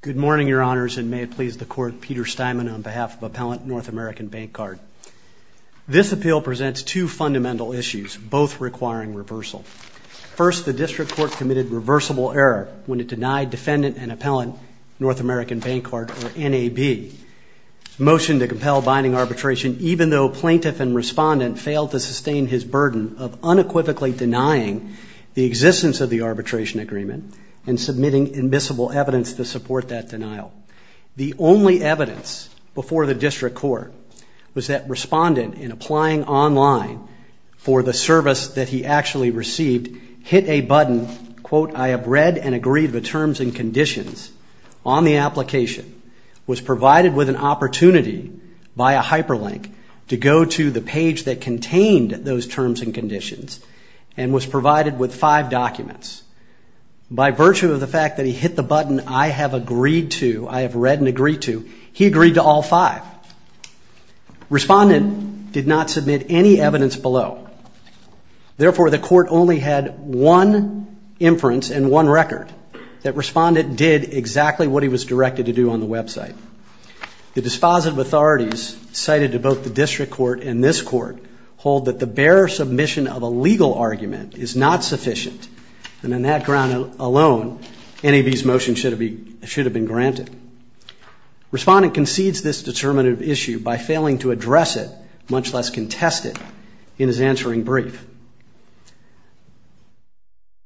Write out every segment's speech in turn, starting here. Good morning, Your Honors, and may it please the Court, Peter Steinman on behalf of Appellant North American Bancard. This appeal presents two fundamental issues, both requiring reversal. First, the District Court committed reversible error when it denied Defendant and Appellant North American Bancard, or NAB, motion to compel binding arbitration even though plaintiff and respondent failed to sustain his burden of unequivocally denying the existence of the arbitration agreement and submitting immiscible evidence to support that denial. The only evidence before the District Court was that respondent, in applying online for the service that he actually received, hit a button, quote, I have read and agreed the terms and conditions on the application, was provided with an opportunity by a hyperlink to go to the page that contained those terms and conditions, and was provided with five documents. By virtue of the fact that he hit the button, I have agreed to, I have read and agreed to, he agreed to all five. Respondent did not submit any evidence below. Therefore, the court only had one inference and one record that respondent did exactly what he was directed to do on the website. The dispositive authorities cited to both the District Court and this court hold that the bare submission of a legal argument is not sufficient, and on that ground alone, NAB's motion should have been granted. Respondent concedes this determinative issue by failing to address it, much less contest it, in his answering brief.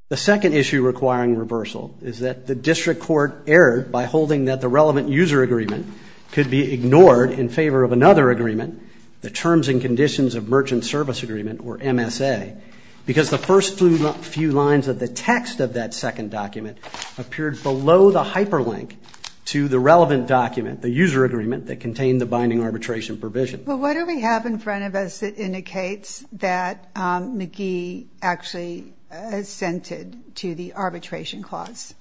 The second issue requiring reversal is that the District Court erred by holding that the relevant user agreement could be ignored in favor of another agreement, the Terms and Conditions of Merchant Service Agreement, or MSA, because the first few lines of the text of that second document appeared below the hyperlink to the relevant document, the user agreement that contained the binding arbitration provision. But what do we have in front of us that indicates that McGee actually assented to the arbitration clause?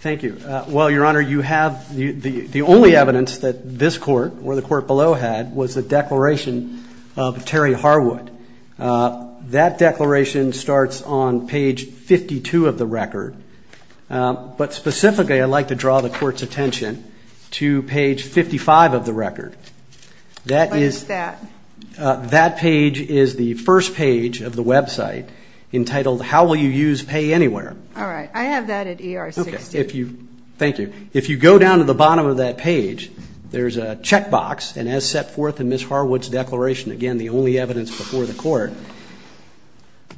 Thank you. Well, Your Honor, you have, the only evidence that this court or the court below had was the declaration of Terry Harwood. That declaration starts on page 52 of the record. But specifically, I'd like to draw the court's attention to page 55 of the record. What is that? That page is the first page of the website entitled, How Will You Use Pay Anywhere? All right. I have that at ER-60. Okay. Thank you. If you go down to the bottom of that page, there's a checkbox, and as set forth in Ms. Harwood's declaration, again, the only evidence before the court,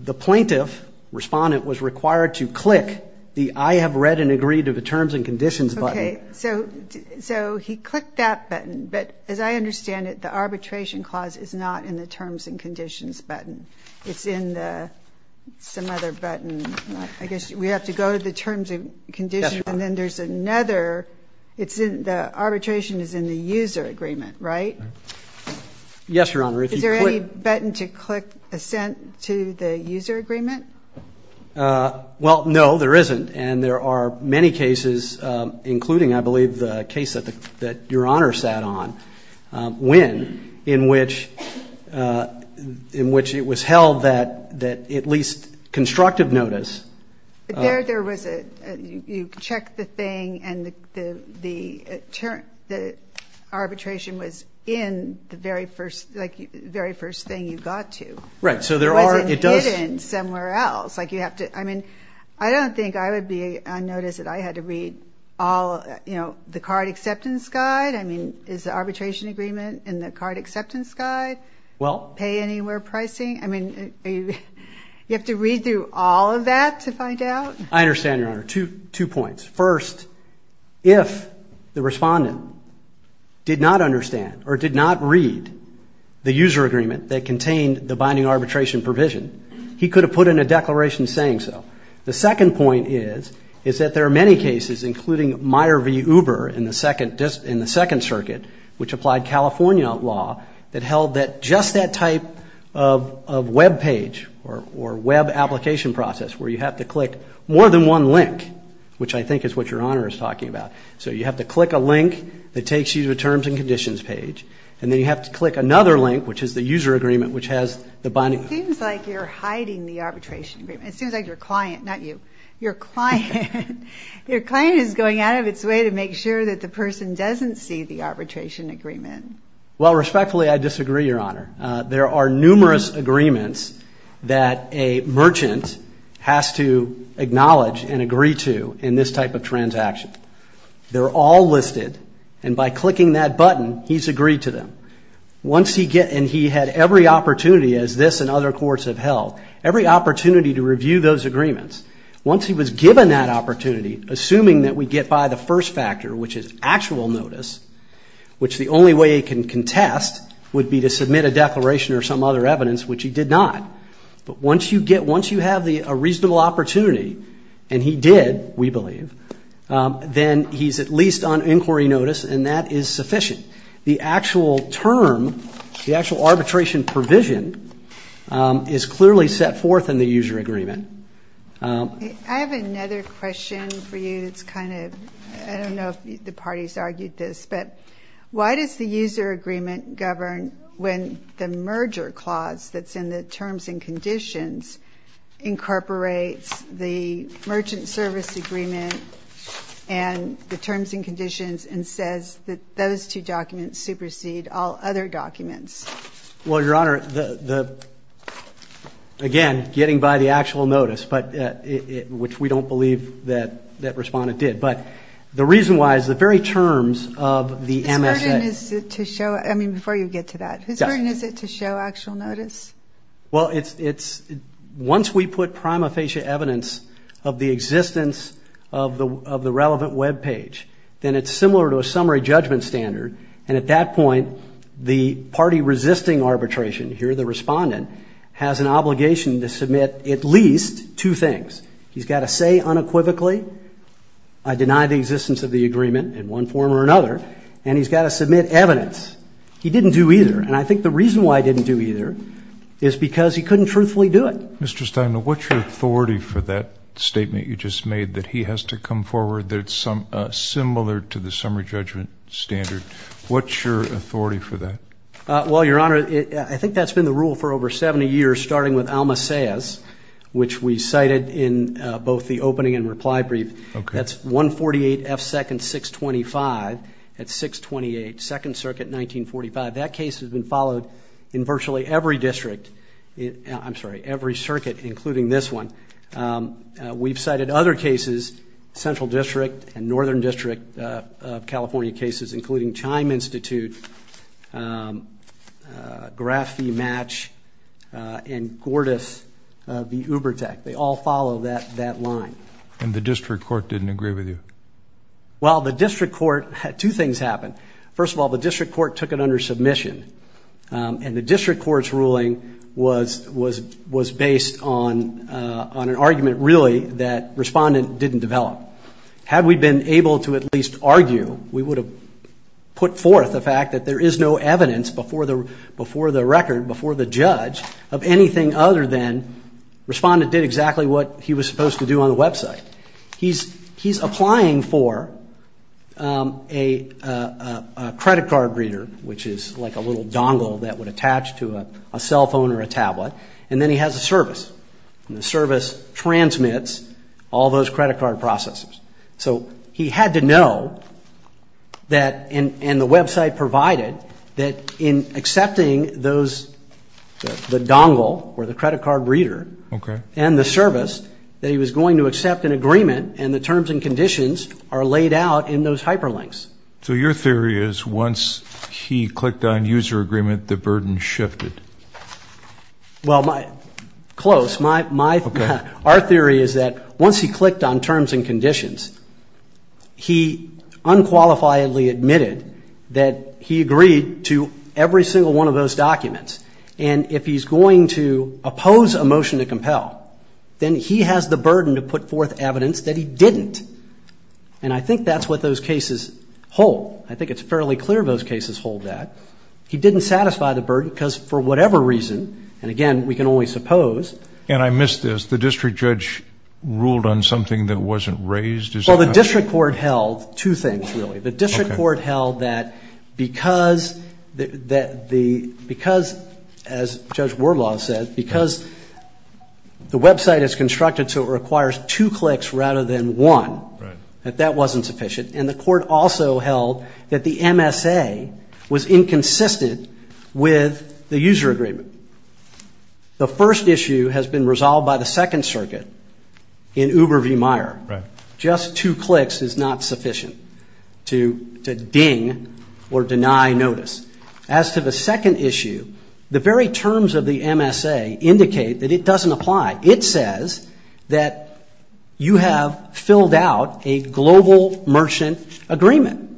the plaintiff, respondent, was required to click the I have read and agreed to the terms and conditions button. Okay. So he clicked that button. But as I understand it, the arbitration clause is not in the terms and conditions button. It's in the some other button. I guess we have to go to the terms and conditions. And then there's another. The arbitration is in the user agreement, right? Yes, Your Honor. Is there any button to click assent to the user agreement? Well, no, there isn't. And there are many cases, including, I believe, the case that Your Honor sat on, when in which it was held that at least constructive notice. There was a, you check the thing, and the arbitration was in the very first thing you got to. Right. So there are, it does. It was hidden somewhere else. Like you have to, I mean, I don't think I would be unnoticed that I had to read all, you know, the card acceptance guide. I mean, is the arbitration agreement in the card acceptance guide? Well. Pay anywhere pricing? I mean, you have to read through all of that to find out? I understand, Your Honor. Two points. First, if the respondent did not understand or did not read the user agreement that contained the binding arbitration provision, he could have put in a declaration saying so. The second point is, is that there are many cases, including Meyer v. Uber in the Second Circuit, which applied California law that held that just that type of web page or web application process where you have to click more than one link, which I think is what Your Honor is talking about. So you have to click a link that takes you to a terms and conditions page, and then you have to click another link, which is the user agreement, which has the binding. It seems like you're hiding the arbitration agreement. It seems like your client, not you, your client, Your client is going out of its way to make sure that the person doesn't see the arbitration agreement. Well, respectfully, I disagree, Your Honor. There are numerous agreements that a merchant has to acknowledge and agree to in this type of transaction. They're all listed, and by clicking that button, he's agreed to them. And he had every opportunity, as this and other courts have held, every opportunity to review those agreements. Once he was given that opportunity, assuming that we get by the first factor, which is actual notice, which the only way he can contest would be to submit a declaration or some other evidence, which he did not. But once you get, once you have a reasonable opportunity, and he did, we believe, then he's at least on inquiry notice, and that is sufficient. The actual term, the actual arbitration provision is clearly set forth in the user agreement. I have another question for you that's kind of, I don't know if the parties argued this, but why does the user agreement govern when the merger clause that's in the terms and conditions incorporates the merchant service agreement and the terms and conditions and says that those two documents supersede all other documents? Well, Your Honor, again, getting by the actual notice, which we don't believe that respondent did, but the reason why is the very terms of the MSA. Whose burden is it to show, I mean, before you get to that, whose burden is it to show actual notice? Well, once we put prima facie evidence of the existence of the relevant web page, then it's similar to a summary judgment standard, and at that point the party resisting arbitration, here the respondent, has an obligation to submit at least two things. He's got to say unequivocally, I deny the existence of the agreement in one form or another, and he's got to submit evidence. He didn't do either, and I think the reason why he didn't do either is because he couldn't truthfully do it. Mr. Stein, what's your authority for that statement you just made that he has to come forward that's similar to the summary judgment standard? What's your authority for that? Well, Your Honor, I think that's been the rule for over 70 years, starting with Alma Sayers, which we cited in both the opening and reply brief. That's 148 F. 2nd, 625 at 628 2nd Circuit, 1945. That case has been followed in virtually every district. I'm sorry, every circuit, including this one. We've cited other cases, Central District and Northern District of California cases, including Chime Institute, Graf V. Match, and Gordas V. Uber Tech. They all follow that line. And the district court didn't agree with you? Well, the district court, two things happened. First of all, the district court took it under submission, and the district court's ruling was based on an argument, really, that Respondent didn't develop. Had we been able to at least argue, we would have put forth the fact that there is no evidence before the record, before the judge, of anything other than Respondent did exactly what he was supposed to do on the website. He's applying for a credit card reader, which is like a little dongle that would attach to a cell phone or a tablet, and then he has a service, and the service transmits all those credit card processes. So he had to know that, and the website provided, that in accepting those, the dongle or the credit card reader and the service, that he was going to accept an agreement, and the terms and conditions are laid out in those hyperlinks. So your theory is once he clicked on user agreement, the burden shifted? Well, close. Our theory is that once he clicked on terms and conditions, he unqualifiedly admitted that he agreed to every single one of those documents. And if he's going to oppose a motion to compel, then he has the burden to put forth evidence that he didn't. And I think that's what those cases hold. I think it's fairly clear those cases hold that. He didn't satisfy the burden because for whatever reason, and again, we can only suppose. And I missed this. The district judge ruled on something that wasn't raised? Well, the district court held two things, really. The district court held that because, as Judge Wardlaw said, because the website is constructed so it requires two clicks rather than one, that that wasn't sufficient. And the court also held that the MSA was inconsistent with the user agreement. The first issue has been resolved by the Second Circuit in Uber v. Meyer. Right. Just two clicks is not sufficient to ding or deny notice. As to the second issue, the very terms of the MSA indicate that it doesn't apply. It says that you have filled out a global merchant agreement.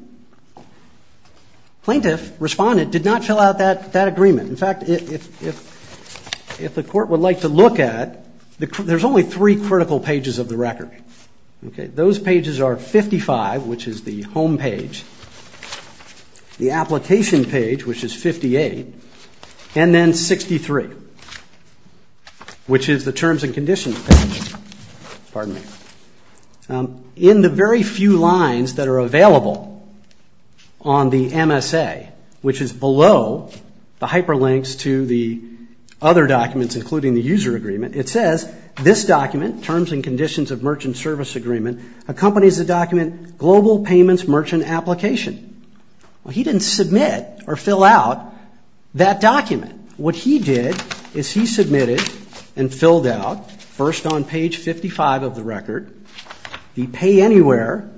Plaintiff responded, did not fill out that agreement. In fact, if the court would like to look at, there's only three critical pages of the record. Those pages are 55, which is the home page, the application page, which is 58, and then 63, which is the terms and conditions page. Pardon me. In the very few lines that are available on the MSA, which is below the hyperlinks to the other documents including the user agreement, it says this document, terms and conditions of merchant service agreement, accompanies the document global payments merchant application. Well, he didn't submit or fill out that document. What he did is he submitted and filled out, first on page 55 of the record, the pay anywhere,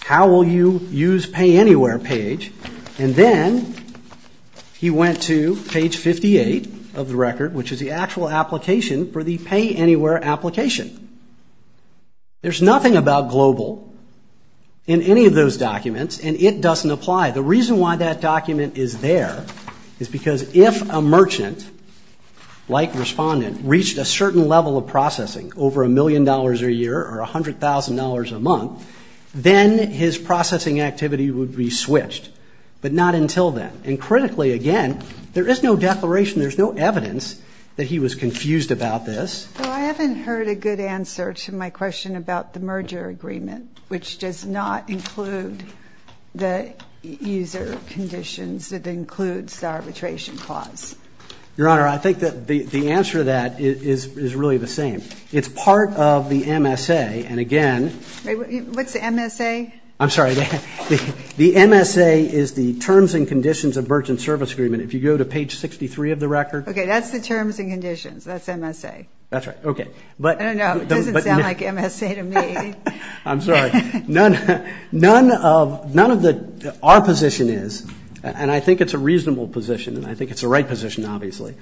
how will you use pay anywhere page, and then he went to page 58 of the record, which is the actual application for the pay anywhere application. There's nothing about global in any of those documents, and it doesn't apply. The reason why that document is there is because if a merchant, like respondent, reached a certain level of processing, over $1 million a year or $100,000 a month, then his processing activity would be switched, but not until then. And critically, again, there is no declaration, there's no evidence that he was confused about this. Well, I haven't heard a good answer to my question about the merger agreement, which does not include the user conditions that includes the arbitration clause. Your Honor, I think that the answer to that is really the same. It's part of the MSA, and again – Wait, what's the MSA? I'm sorry. The MSA is the terms and conditions of merchant service agreement. If you go to page 63 of the record – Okay, that's the terms and conditions. That's MSA. That's right. Okay. I don't know. It doesn't sound like MSA to me. I'm sorry. None of the – our position is, and I think it's a reasonable position, and I think it's the right position, obviously,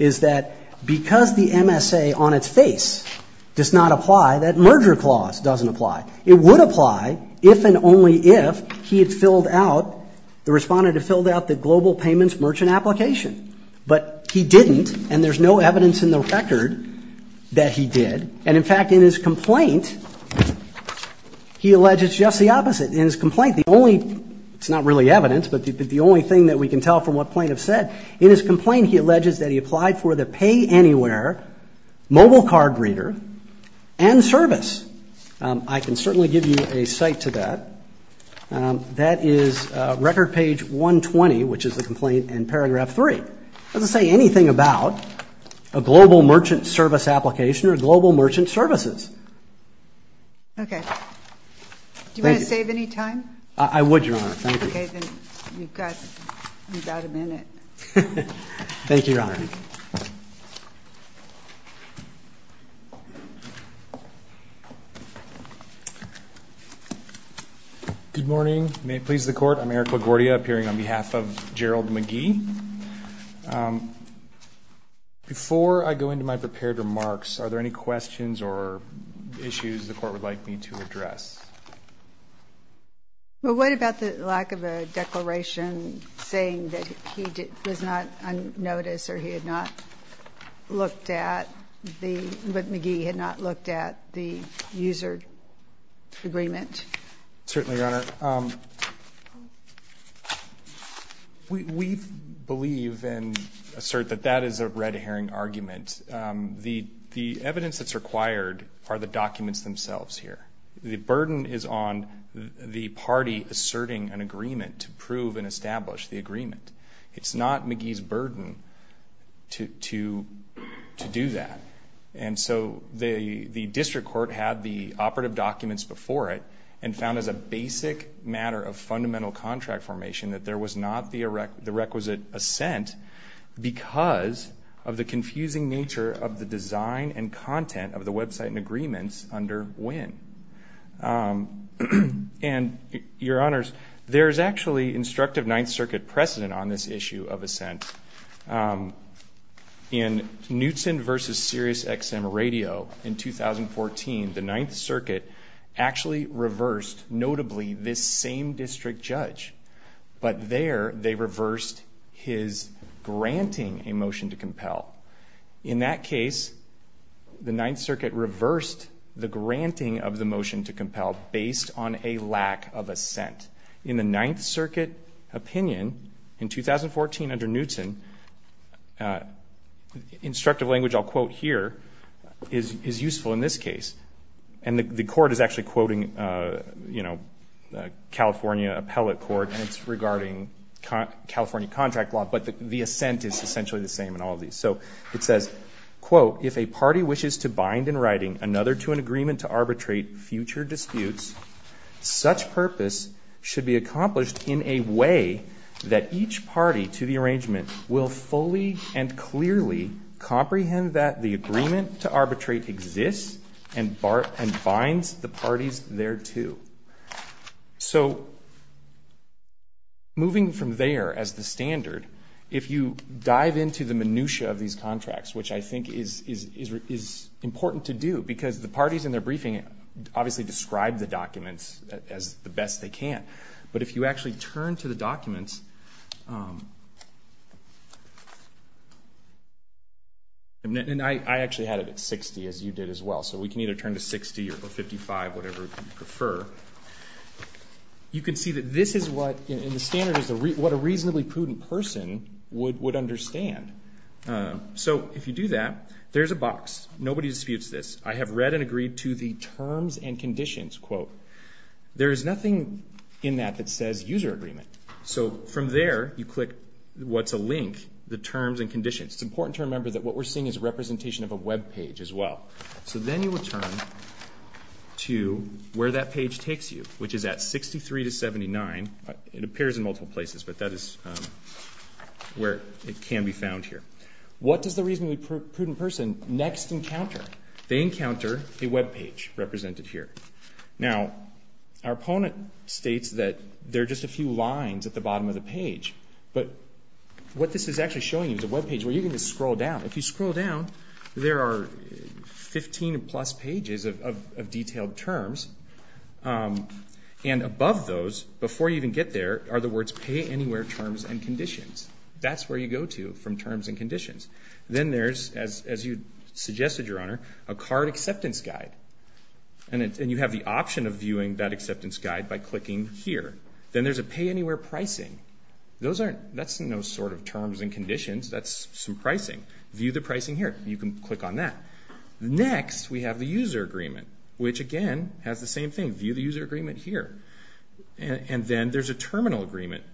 is that because the MSA on its face does not apply, that merger clause doesn't apply. It would apply if and only if he had filled out – the respondent had filled out the global payments merchant application. But he didn't, and there's no evidence in the record that he did. And, in fact, in his complaint, he alleges just the opposite. In his complaint, the only – it's not really evidence, but the only thing that we can tell from what plaintiffs said. In his complaint, he alleges that he applied for the pay anywhere mobile card reader and service. I can certainly give you a cite to that. That is record page 120, which is the complaint in paragraph 3. It doesn't say anything about a global merchant service application or global merchant services. Okay. Thank you. Do you want to save any time? I would, Your Honor. Thank you. Okay. Then you've got about a minute. Thank you, Your Honor. Good morning. May it please the Court. I'm Eric LaGuardia, appearing on behalf of Gerald McGee. Before I go into my prepared remarks, are there any questions or issues the Court would like me to address? Well, what about the lack of a declaration saying that he was not on notice or he had not looked at the – that McGee had not looked at the user agreement? Certainly, Your Honor. We believe and assert that that is a red herring argument. The evidence that's required are the documents themselves here. The burden is on the party asserting an agreement to prove and establish the agreement. It's not McGee's burden to do that. And so the district court had the operative documents before it and found as a basic matter of fundamental contract formation that there was not the requisite assent because of the confusing nature of the design and content of the website and agreements under WIN. And, Your Honors, there is actually instructive Ninth Circuit precedent on this issue of assent. In Knutson v. SiriusXM Radio in 2014, the Ninth Circuit actually reversed notably this same district judge, but there they reversed his granting a motion to compel. In that case, the Ninth Circuit reversed the granting of the motion to compel based on a lack of assent. In the Ninth Circuit opinion in 2014 under Knutson, instructive language I'll quote here is useful in this case. And the court is actually quoting California appellate court and it's regarding California contract law, but the assent is essentially the same in all of these. So it says, quote, If a party wishes to bind in writing another to an agreement to arbitrate future disputes, such purpose should be accomplished in a way that each party to the arrangement will fully and clearly comprehend that the agreement to arbitrate exists and binds the parties thereto. So moving from there as the standard, if you dive into the minutia of these contracts, which I think is important to do, because the parties in their briefing obviously describe the documents as the best they can, but if you actually turn to the documents, and I actually had it at 60 as you did as well, so we can either turn to 60 or 55, whatever you prefer. You can see that this is what, and the standard is what a reasonably prudent person would understand. So if you do that, there's a box. Nobody disputes this. I have read and agreed to the terms and conditions, quote. There is nothing in that that says user agreement. So from there you click what's a link, the terms and conditions. It's important to remember that what we're seeing is representation of a web page as well. So then you would turn to where that page takes you, which is at 63 to 79. It appears in multiple places, but that is where it can be found here. What does the reasonably prudent person next encounter? They encounter a web page represented here. Now, our opponent states that there are just a few lines at the bottom of the page, but what this is actually showing you is a web page where you can just scroll down. If you scroll down, there are 15 plus pages of detailed terms, and above those, before you even get there, are the words pay anywhere terms and conditions. That's where you go to from terms and conditions. Then there's, as you suggested, Your Honor, a card acceptance guide, and you have the option of viewing that acceptance guide by clicking here. Then there's a pay anywhere pricing. That's no sort of terms and conditions. That's some pricing. View the pricing here. You can click on that. Next, we have the user agreement, which, again, has the same thing. View the user agreement here, and then there's a terminal agreement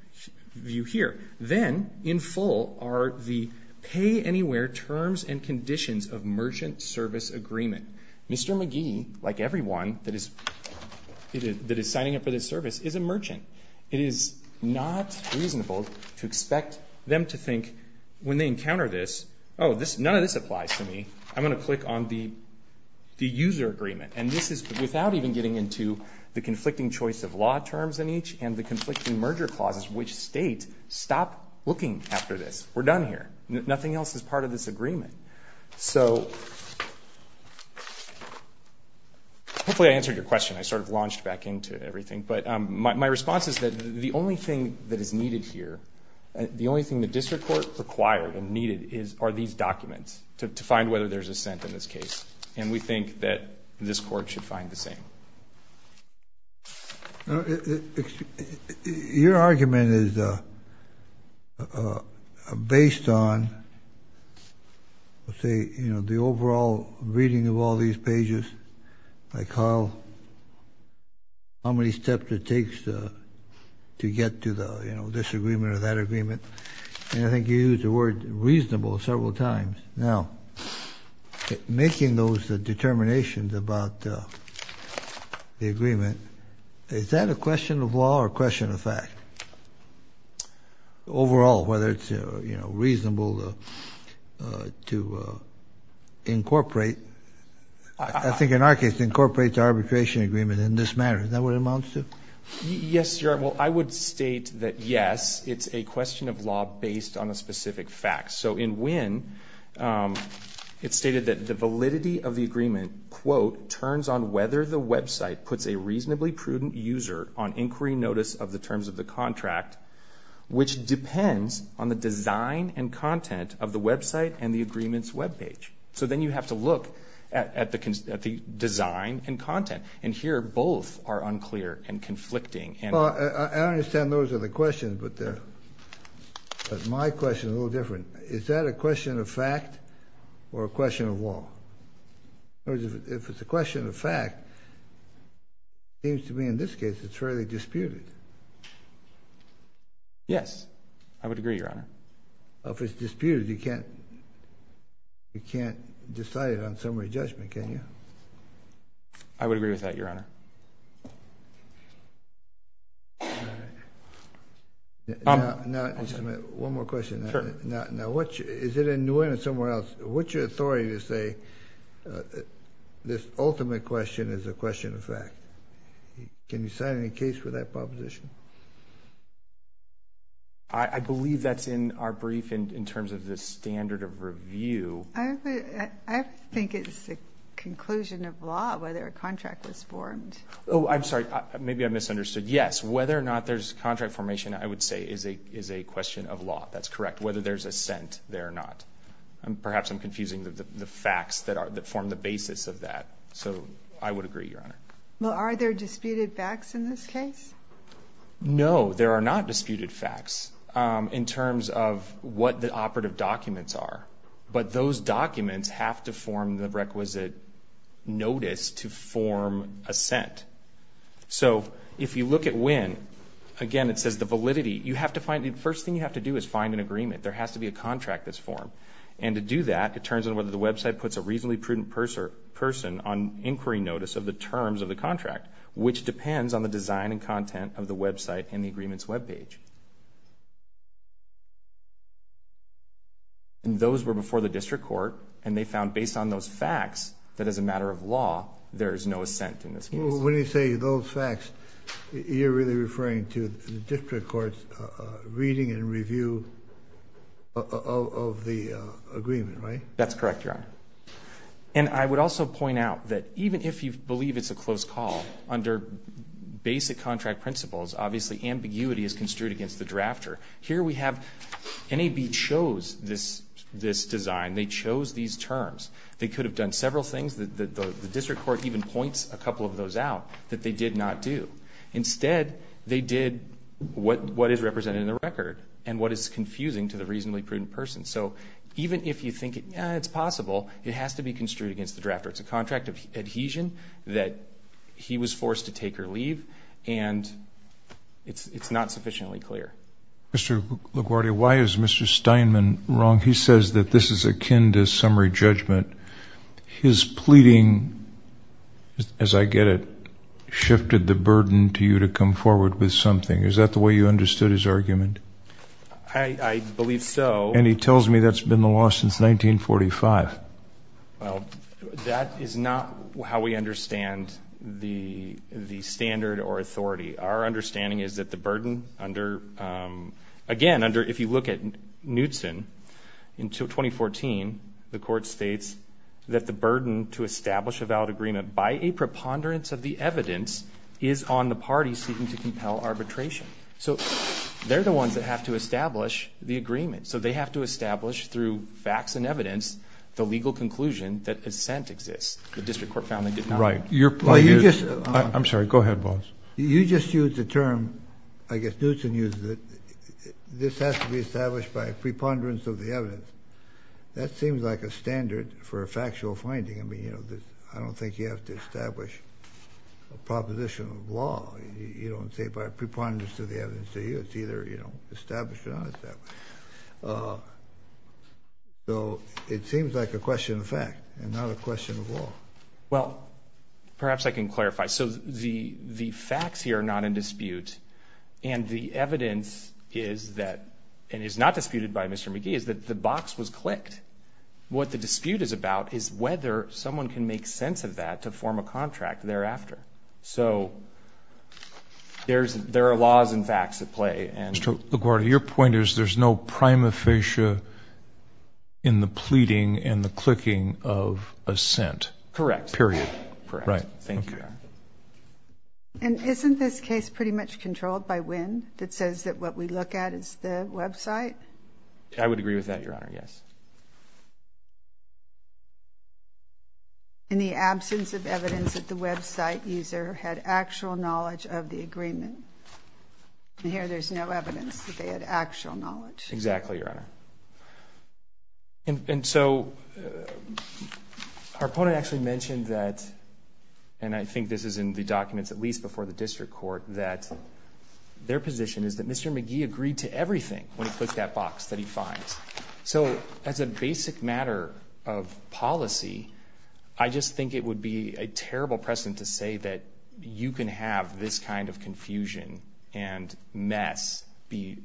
view here. Then, in full, are the pay anywhere terms and conditions of merchant service agreement. Mr. McGee, like everyone that is signing up for this service, is a merchant. It is not reasonable to expect them to think, when they encounter this, oh, none of this applies to me. I'm going to click on the user agreement. This is without even getting into the conflicting choice of law terms in each and the conflicting merger clauses, which state, stop looking after this. We're done here. Nothing else is part of this agreement. Hopefully I answered your question. I sort of launched back into everything. But my response is that the only thing that is needed here, the only thing the district court required and needed are these documents to find whether there's assent in this case. And we think that this court should find the same. Your argument is based on, let's say, the overall reading of all these pages, like how many steps it takes to get to this agreement or that agreement. And I think you used the word reasonable several times. Now, making those determinations about the agreement, is that a question of law or a question of fact? Overall, whether it's reasonable to incorporate. I think in our case, incorporate the arbitration agreement in this matter. Is that what it amounts to? Yes, Your Honor. Well, I would state that, yes, it's a question of law based on a specific fact. So in Winn, it's stated that the validity of the agreement, quote, turns on whether the website puts a reasonably prudent user on inquiry notice of the terms of the contract, which depends on the design and content of the website and the agreement's web page. So then you have to look at the design and content. And here, both are unclear and conflicting. Well, I understand those are the questions, but my question is a little different. Is that a question of fact or a question of law? If it's a question of fact, it seems to me in this case it's fairly disputed. Yes, I would agree, Your Honor. If it's disputed, you can't decide it on summary judgment, can you? I would agree with that, Your Honor. Now, just a minute, one more question. Sure. Now, is it in Nguyen or somewhere else, what's your authority to say this ultimate question is a question of fact? Can you sign any case for that proposition? I believe that's in our brief in terms of the standard of review. I think it's a conclusion of law whether a contract was formed. Oh, I'm sorry, maybe I misunderstood. Yes, whether or not there's contract formation, I would say, is a question of law. That's correct, whether there's assent there or not. Perhaps I'm confusing the facts that form the basis of that. So I would agree, Your Honor. Well, are there disputed facts in this case? No, there are not disputed facts in terms of what the operative documents are. But those documents have to form the requisite notice to form assent. So if you look at Nguyen, again, it says the validity. The first thing you have to do is find an agreement. There has to be a contract that's formed. And to do that, it turns on whether the website puts a reasonably prudent person on inquiry notice of the terms of the contract, which depends on the design and content of the website and the agreement's web page. Those were before the district court, and they found, based on those facts, that as a matter of law, there is no assent in this case. When you say those facts, you're really referring to the district court's reading and review of the agreement, right? That's correct, Your Honor. And I would also point out that even if you believe it's a close call, under basic contract principles, obviously ambiguity is construed against the drafter. Here we have NAB chose this design. They chose these terms. They could have done several things. The district court even points a couple of those out that they did not do. Instead, they did what is represented in the record and what is confusing to the reasonably prudent person. So even if you think it's possible, it has to be construed against the drafter. It's a contract of adhesion that he was forced to take or leave, and it's not sufficiently clear. Mr. LaGuardia, why is Mr. Steinman wrong? He says that this is akin to summary judgment. His pleading, as I get it, shifted the burden to you to come forward with something. Is that the way you understood his argument? I believe so. And he tells me that's been the law since 1945. Well, that is not how we understand the standard or authority. Our understanding is that the burden under, again, if you look at Knutson in 2014, the court states that the burden to establish a valid agreement by a preponderance of the evidence is on the parties seeking to compel arbitration. So they're the ones that have to establish the agreement. So they have to establish through facts and evidence the legal conclusion that assent exists. The district court found they did not. Right. I'm sorry. Go ahead, boss. You just used the term, I guess Knutson used it, this has to be established by a preponderance of the evidence. That seems like a standard for a factual finding. I mean, I don't think you have to establish a proposition of law. You don't say by a preponderance of the evidence to you. It's either established or not established. So it seems like a question of fact and not a question of law. Well, perhaps I can clarify. So the facts here are not in dispute, and the evidence is that, and is not disputed by Mr. McGee, is that the box was clicked. What the dispute is about is whether someone can make sense of that to form a contract thereafter. So there are laws and facts at play. Mr. LaGuardia, your point is there's no prima facie in the pleading and the clicking of assent. Correct. Correct. Thank you, Your Honor. And isn't this case pretty much controlled by Winn that says that what we look at is the website? I would agree with that, Your Honor, yes. In the absence of evidence that the website user had actual knowledge of the agreement. And here there's no evidence that they had actual knowledge. Exactly, Your Honor. And so our opponent actually mentioned that, and I think this is in the documents at least before the district court, that their position is that Mr. McGee agreed to everything when he clicked that box that he finds. So as a basic matter of policy, I just think it would be a terrible precedent to say that you can have this kind of confusion and mess be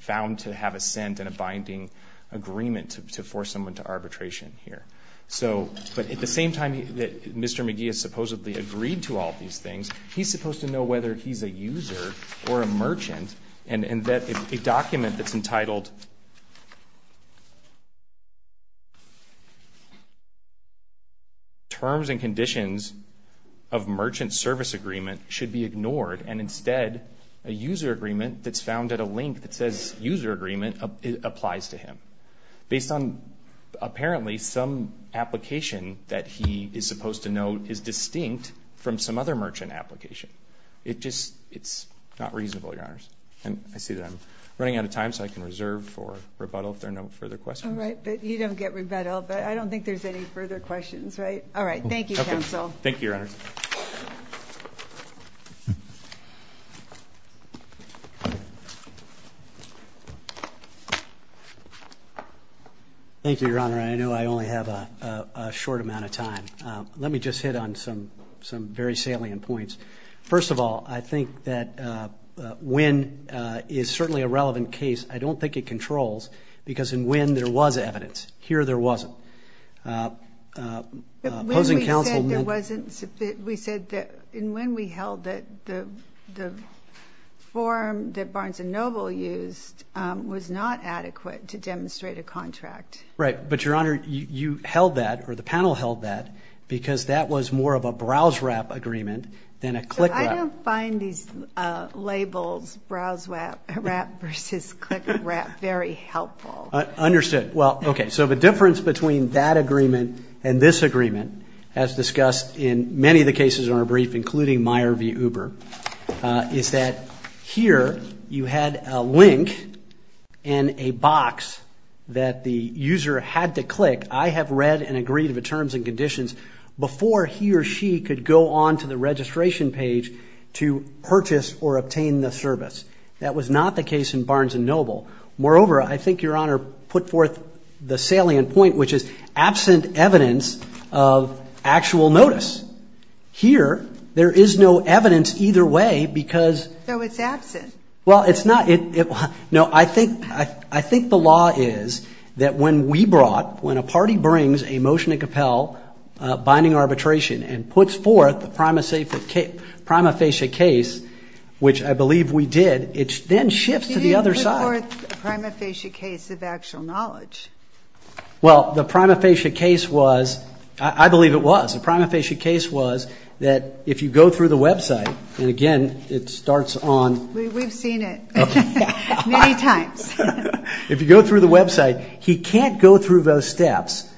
found to have assent in a binding agreement to force someone to arbitration here. But at the same time that Mr. McGee has supposedly agreed to all of these things, he's supposed to know whether he's a user or a merchant, and that a document that's entitled Terms and Conditions of Merchant Service Agreement should be ignored, and instead a user agreement that's found at a link that says user agreement applies to him. Based on apparently some application that he is supposed to know is distinct from some other merchant application. It's not reasonable, Your Honors. And I see that I'm running out of time, so I can reserve for rebuttal if there are no further questions. All right. You don't get rebuttal, but I don't think there's any further questions, right? All right. Thank you, counsel. Thank you, Your Honor. Thank you, Your Honor. I know I only have a short amount of time. Let me just hit on some very salient points. First of all, I think that when is certainly a relevant case. I don't think it controls, because in when there was evidence. Here there wasn't. Opposing counsel. We said that in when we held it, the form that Barnes & Noble used was not adequate to demonstrate a contract. Right. But, Your Honor, you held that, or the panel held that, because that was more of a browse-wrap agreement than a click-wrap. I don't find these labels, browse-wrap versus click-wrap, very helpful. Understood. Well, okay. So the difference between that agreement and this agreement, as discussed in many of the cases in our brief, including Meyer v. Uber, is that here you had a link and a box that the user had to click, I have read and agreed to the terms and conditions, before he or she could go on to the registration page to purchase or obtain the service. That was not the case in Barnes & Noble. Moreover, I think Your Honor put forth the salient point, which is absent evidence of actual notice. Here, there is no evidence either way because. So it's absent. Well, it's not. No, I think the law is that when we brought, when a party brings a motion to compel binding arbitration and puts forth the prima facie case, which I believe we did, it then shifts to the other side. You didn't put forth a prima facie case of actual knowledge. Well, the prima facie case was, I believe it was. The prima facie case was that if you go through the website, and again, it starts on. We've seen it many times. If you go through the website, he can't go through those steps,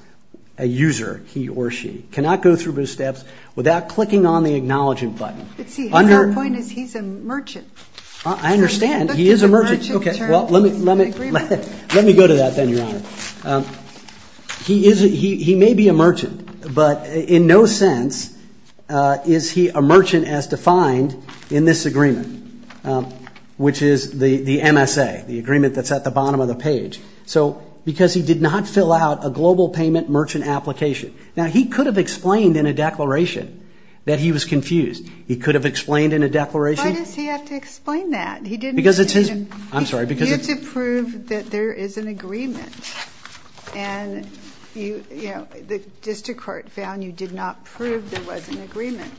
a user, he or she, cannot go through those steps without clicking on the acknowledging button. But see, our point is he's a merchant. I understand. He is a merchant. Okay. Well, let me go to that then, Your Honor. He may be a merchant, but in no sense is he a merchant as defined in this agreement, which is the MSA, the agreement that's at the bottom of the page. So because he did not fill out a global payment merchant application. Now, he could have explained in a declaration that he was confused. He could have explained in a declaration. Why does he have to explain that? Because it's his. I'm sorry. You have to prove that there is an agreement, and the district court found you did not prove there was an agreement.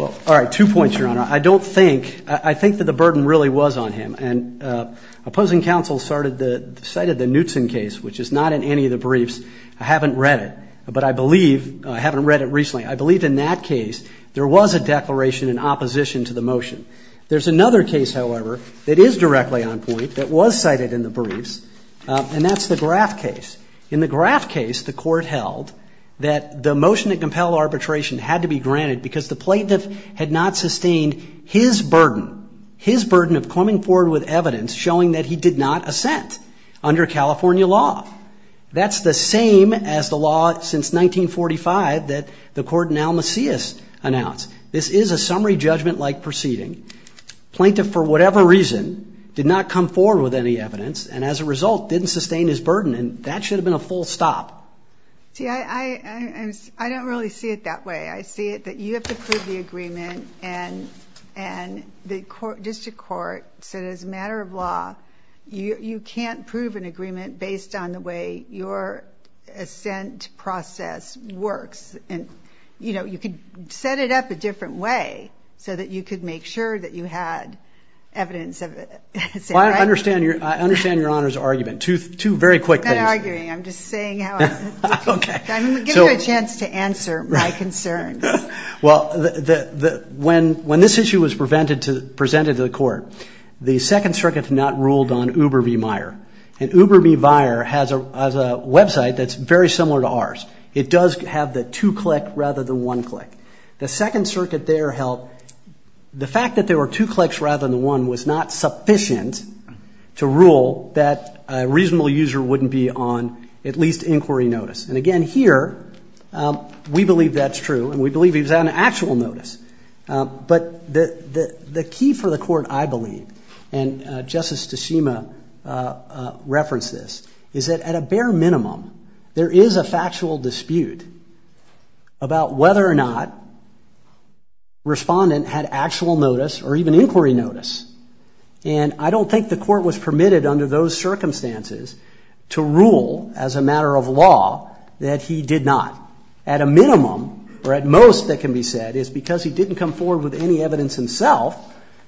Well, all right, two points, Your Honor. I don't think, I think that the burden really was on him, and opposing counsel cited the Knutson case, which is not in any of the briefs. I haven't read it, but I believe, I haven't read it recently, I believe in that case there was a declaration in opposition to the motion. There's another case, however, that is directly on point that was cited in the briefs, and that's the Graff case. In the Graff case, the court held that the motion to compel arbitration had to be granted because the plaintiff had not sustained his burden, his burden of coming forward with evidence showing that he did not assent under California law. That's the same as the law since 1945 that the court in Almasseus announced. This is a summary judgment-like proceeding. Plaintiff, for whatever reason, did not come forward with any evidence, and as a result didn't sustain his burden, and that should have been a full stop. See, I don't really see it that way. I see it that you have to prove the agreement, and the district court said as a matter of law you can't prove an agreement based on the way your assent process works. And, you know, you could set it up a different way so that you could make sure that you had evidence of it. Well, I understand your Honor's argument. Two very quick things. I'm not arguing. I'm just saying how I feel. Okay. I'm going to give you a chance to answer my concerns. Well, when this issue was presented to the court, the Second Circuit had not ruled on Uber v. Meyer, and Uber v. Meyer has a website that's very similar to ours. It does have the two-click rather than one-click. The Second Circuit there held the fact that there were two clicks rather than one was not sufficient to rule that a reasonable user wouldn't be on at least inquiry notice. And, again, here we believe that's true, and we believe he was on actual notice. But the key for the court, I believe, and Justice Tshima referenced this, is that at a bare minimum there is a factual dispute about whether or not respondent had actual notice or even inquiry notice. And I don't think the court was permitted under those circumstances to rule as a matter of law that he did not. At a minimum, or at most that can be said, is because he didn't come forward with any evidence himself,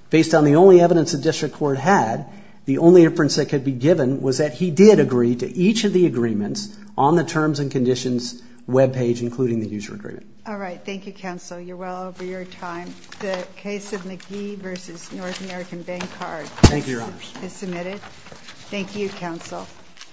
based on the only evidence the district court had, the only inference that could be given was that he did agree to each of the agreements on the terms and conditions web page, including the user agreement. All right. Thank you, counsel. You're well over your time. The case of McGee v. North American Bank Card is submitted. Thank you, counsel.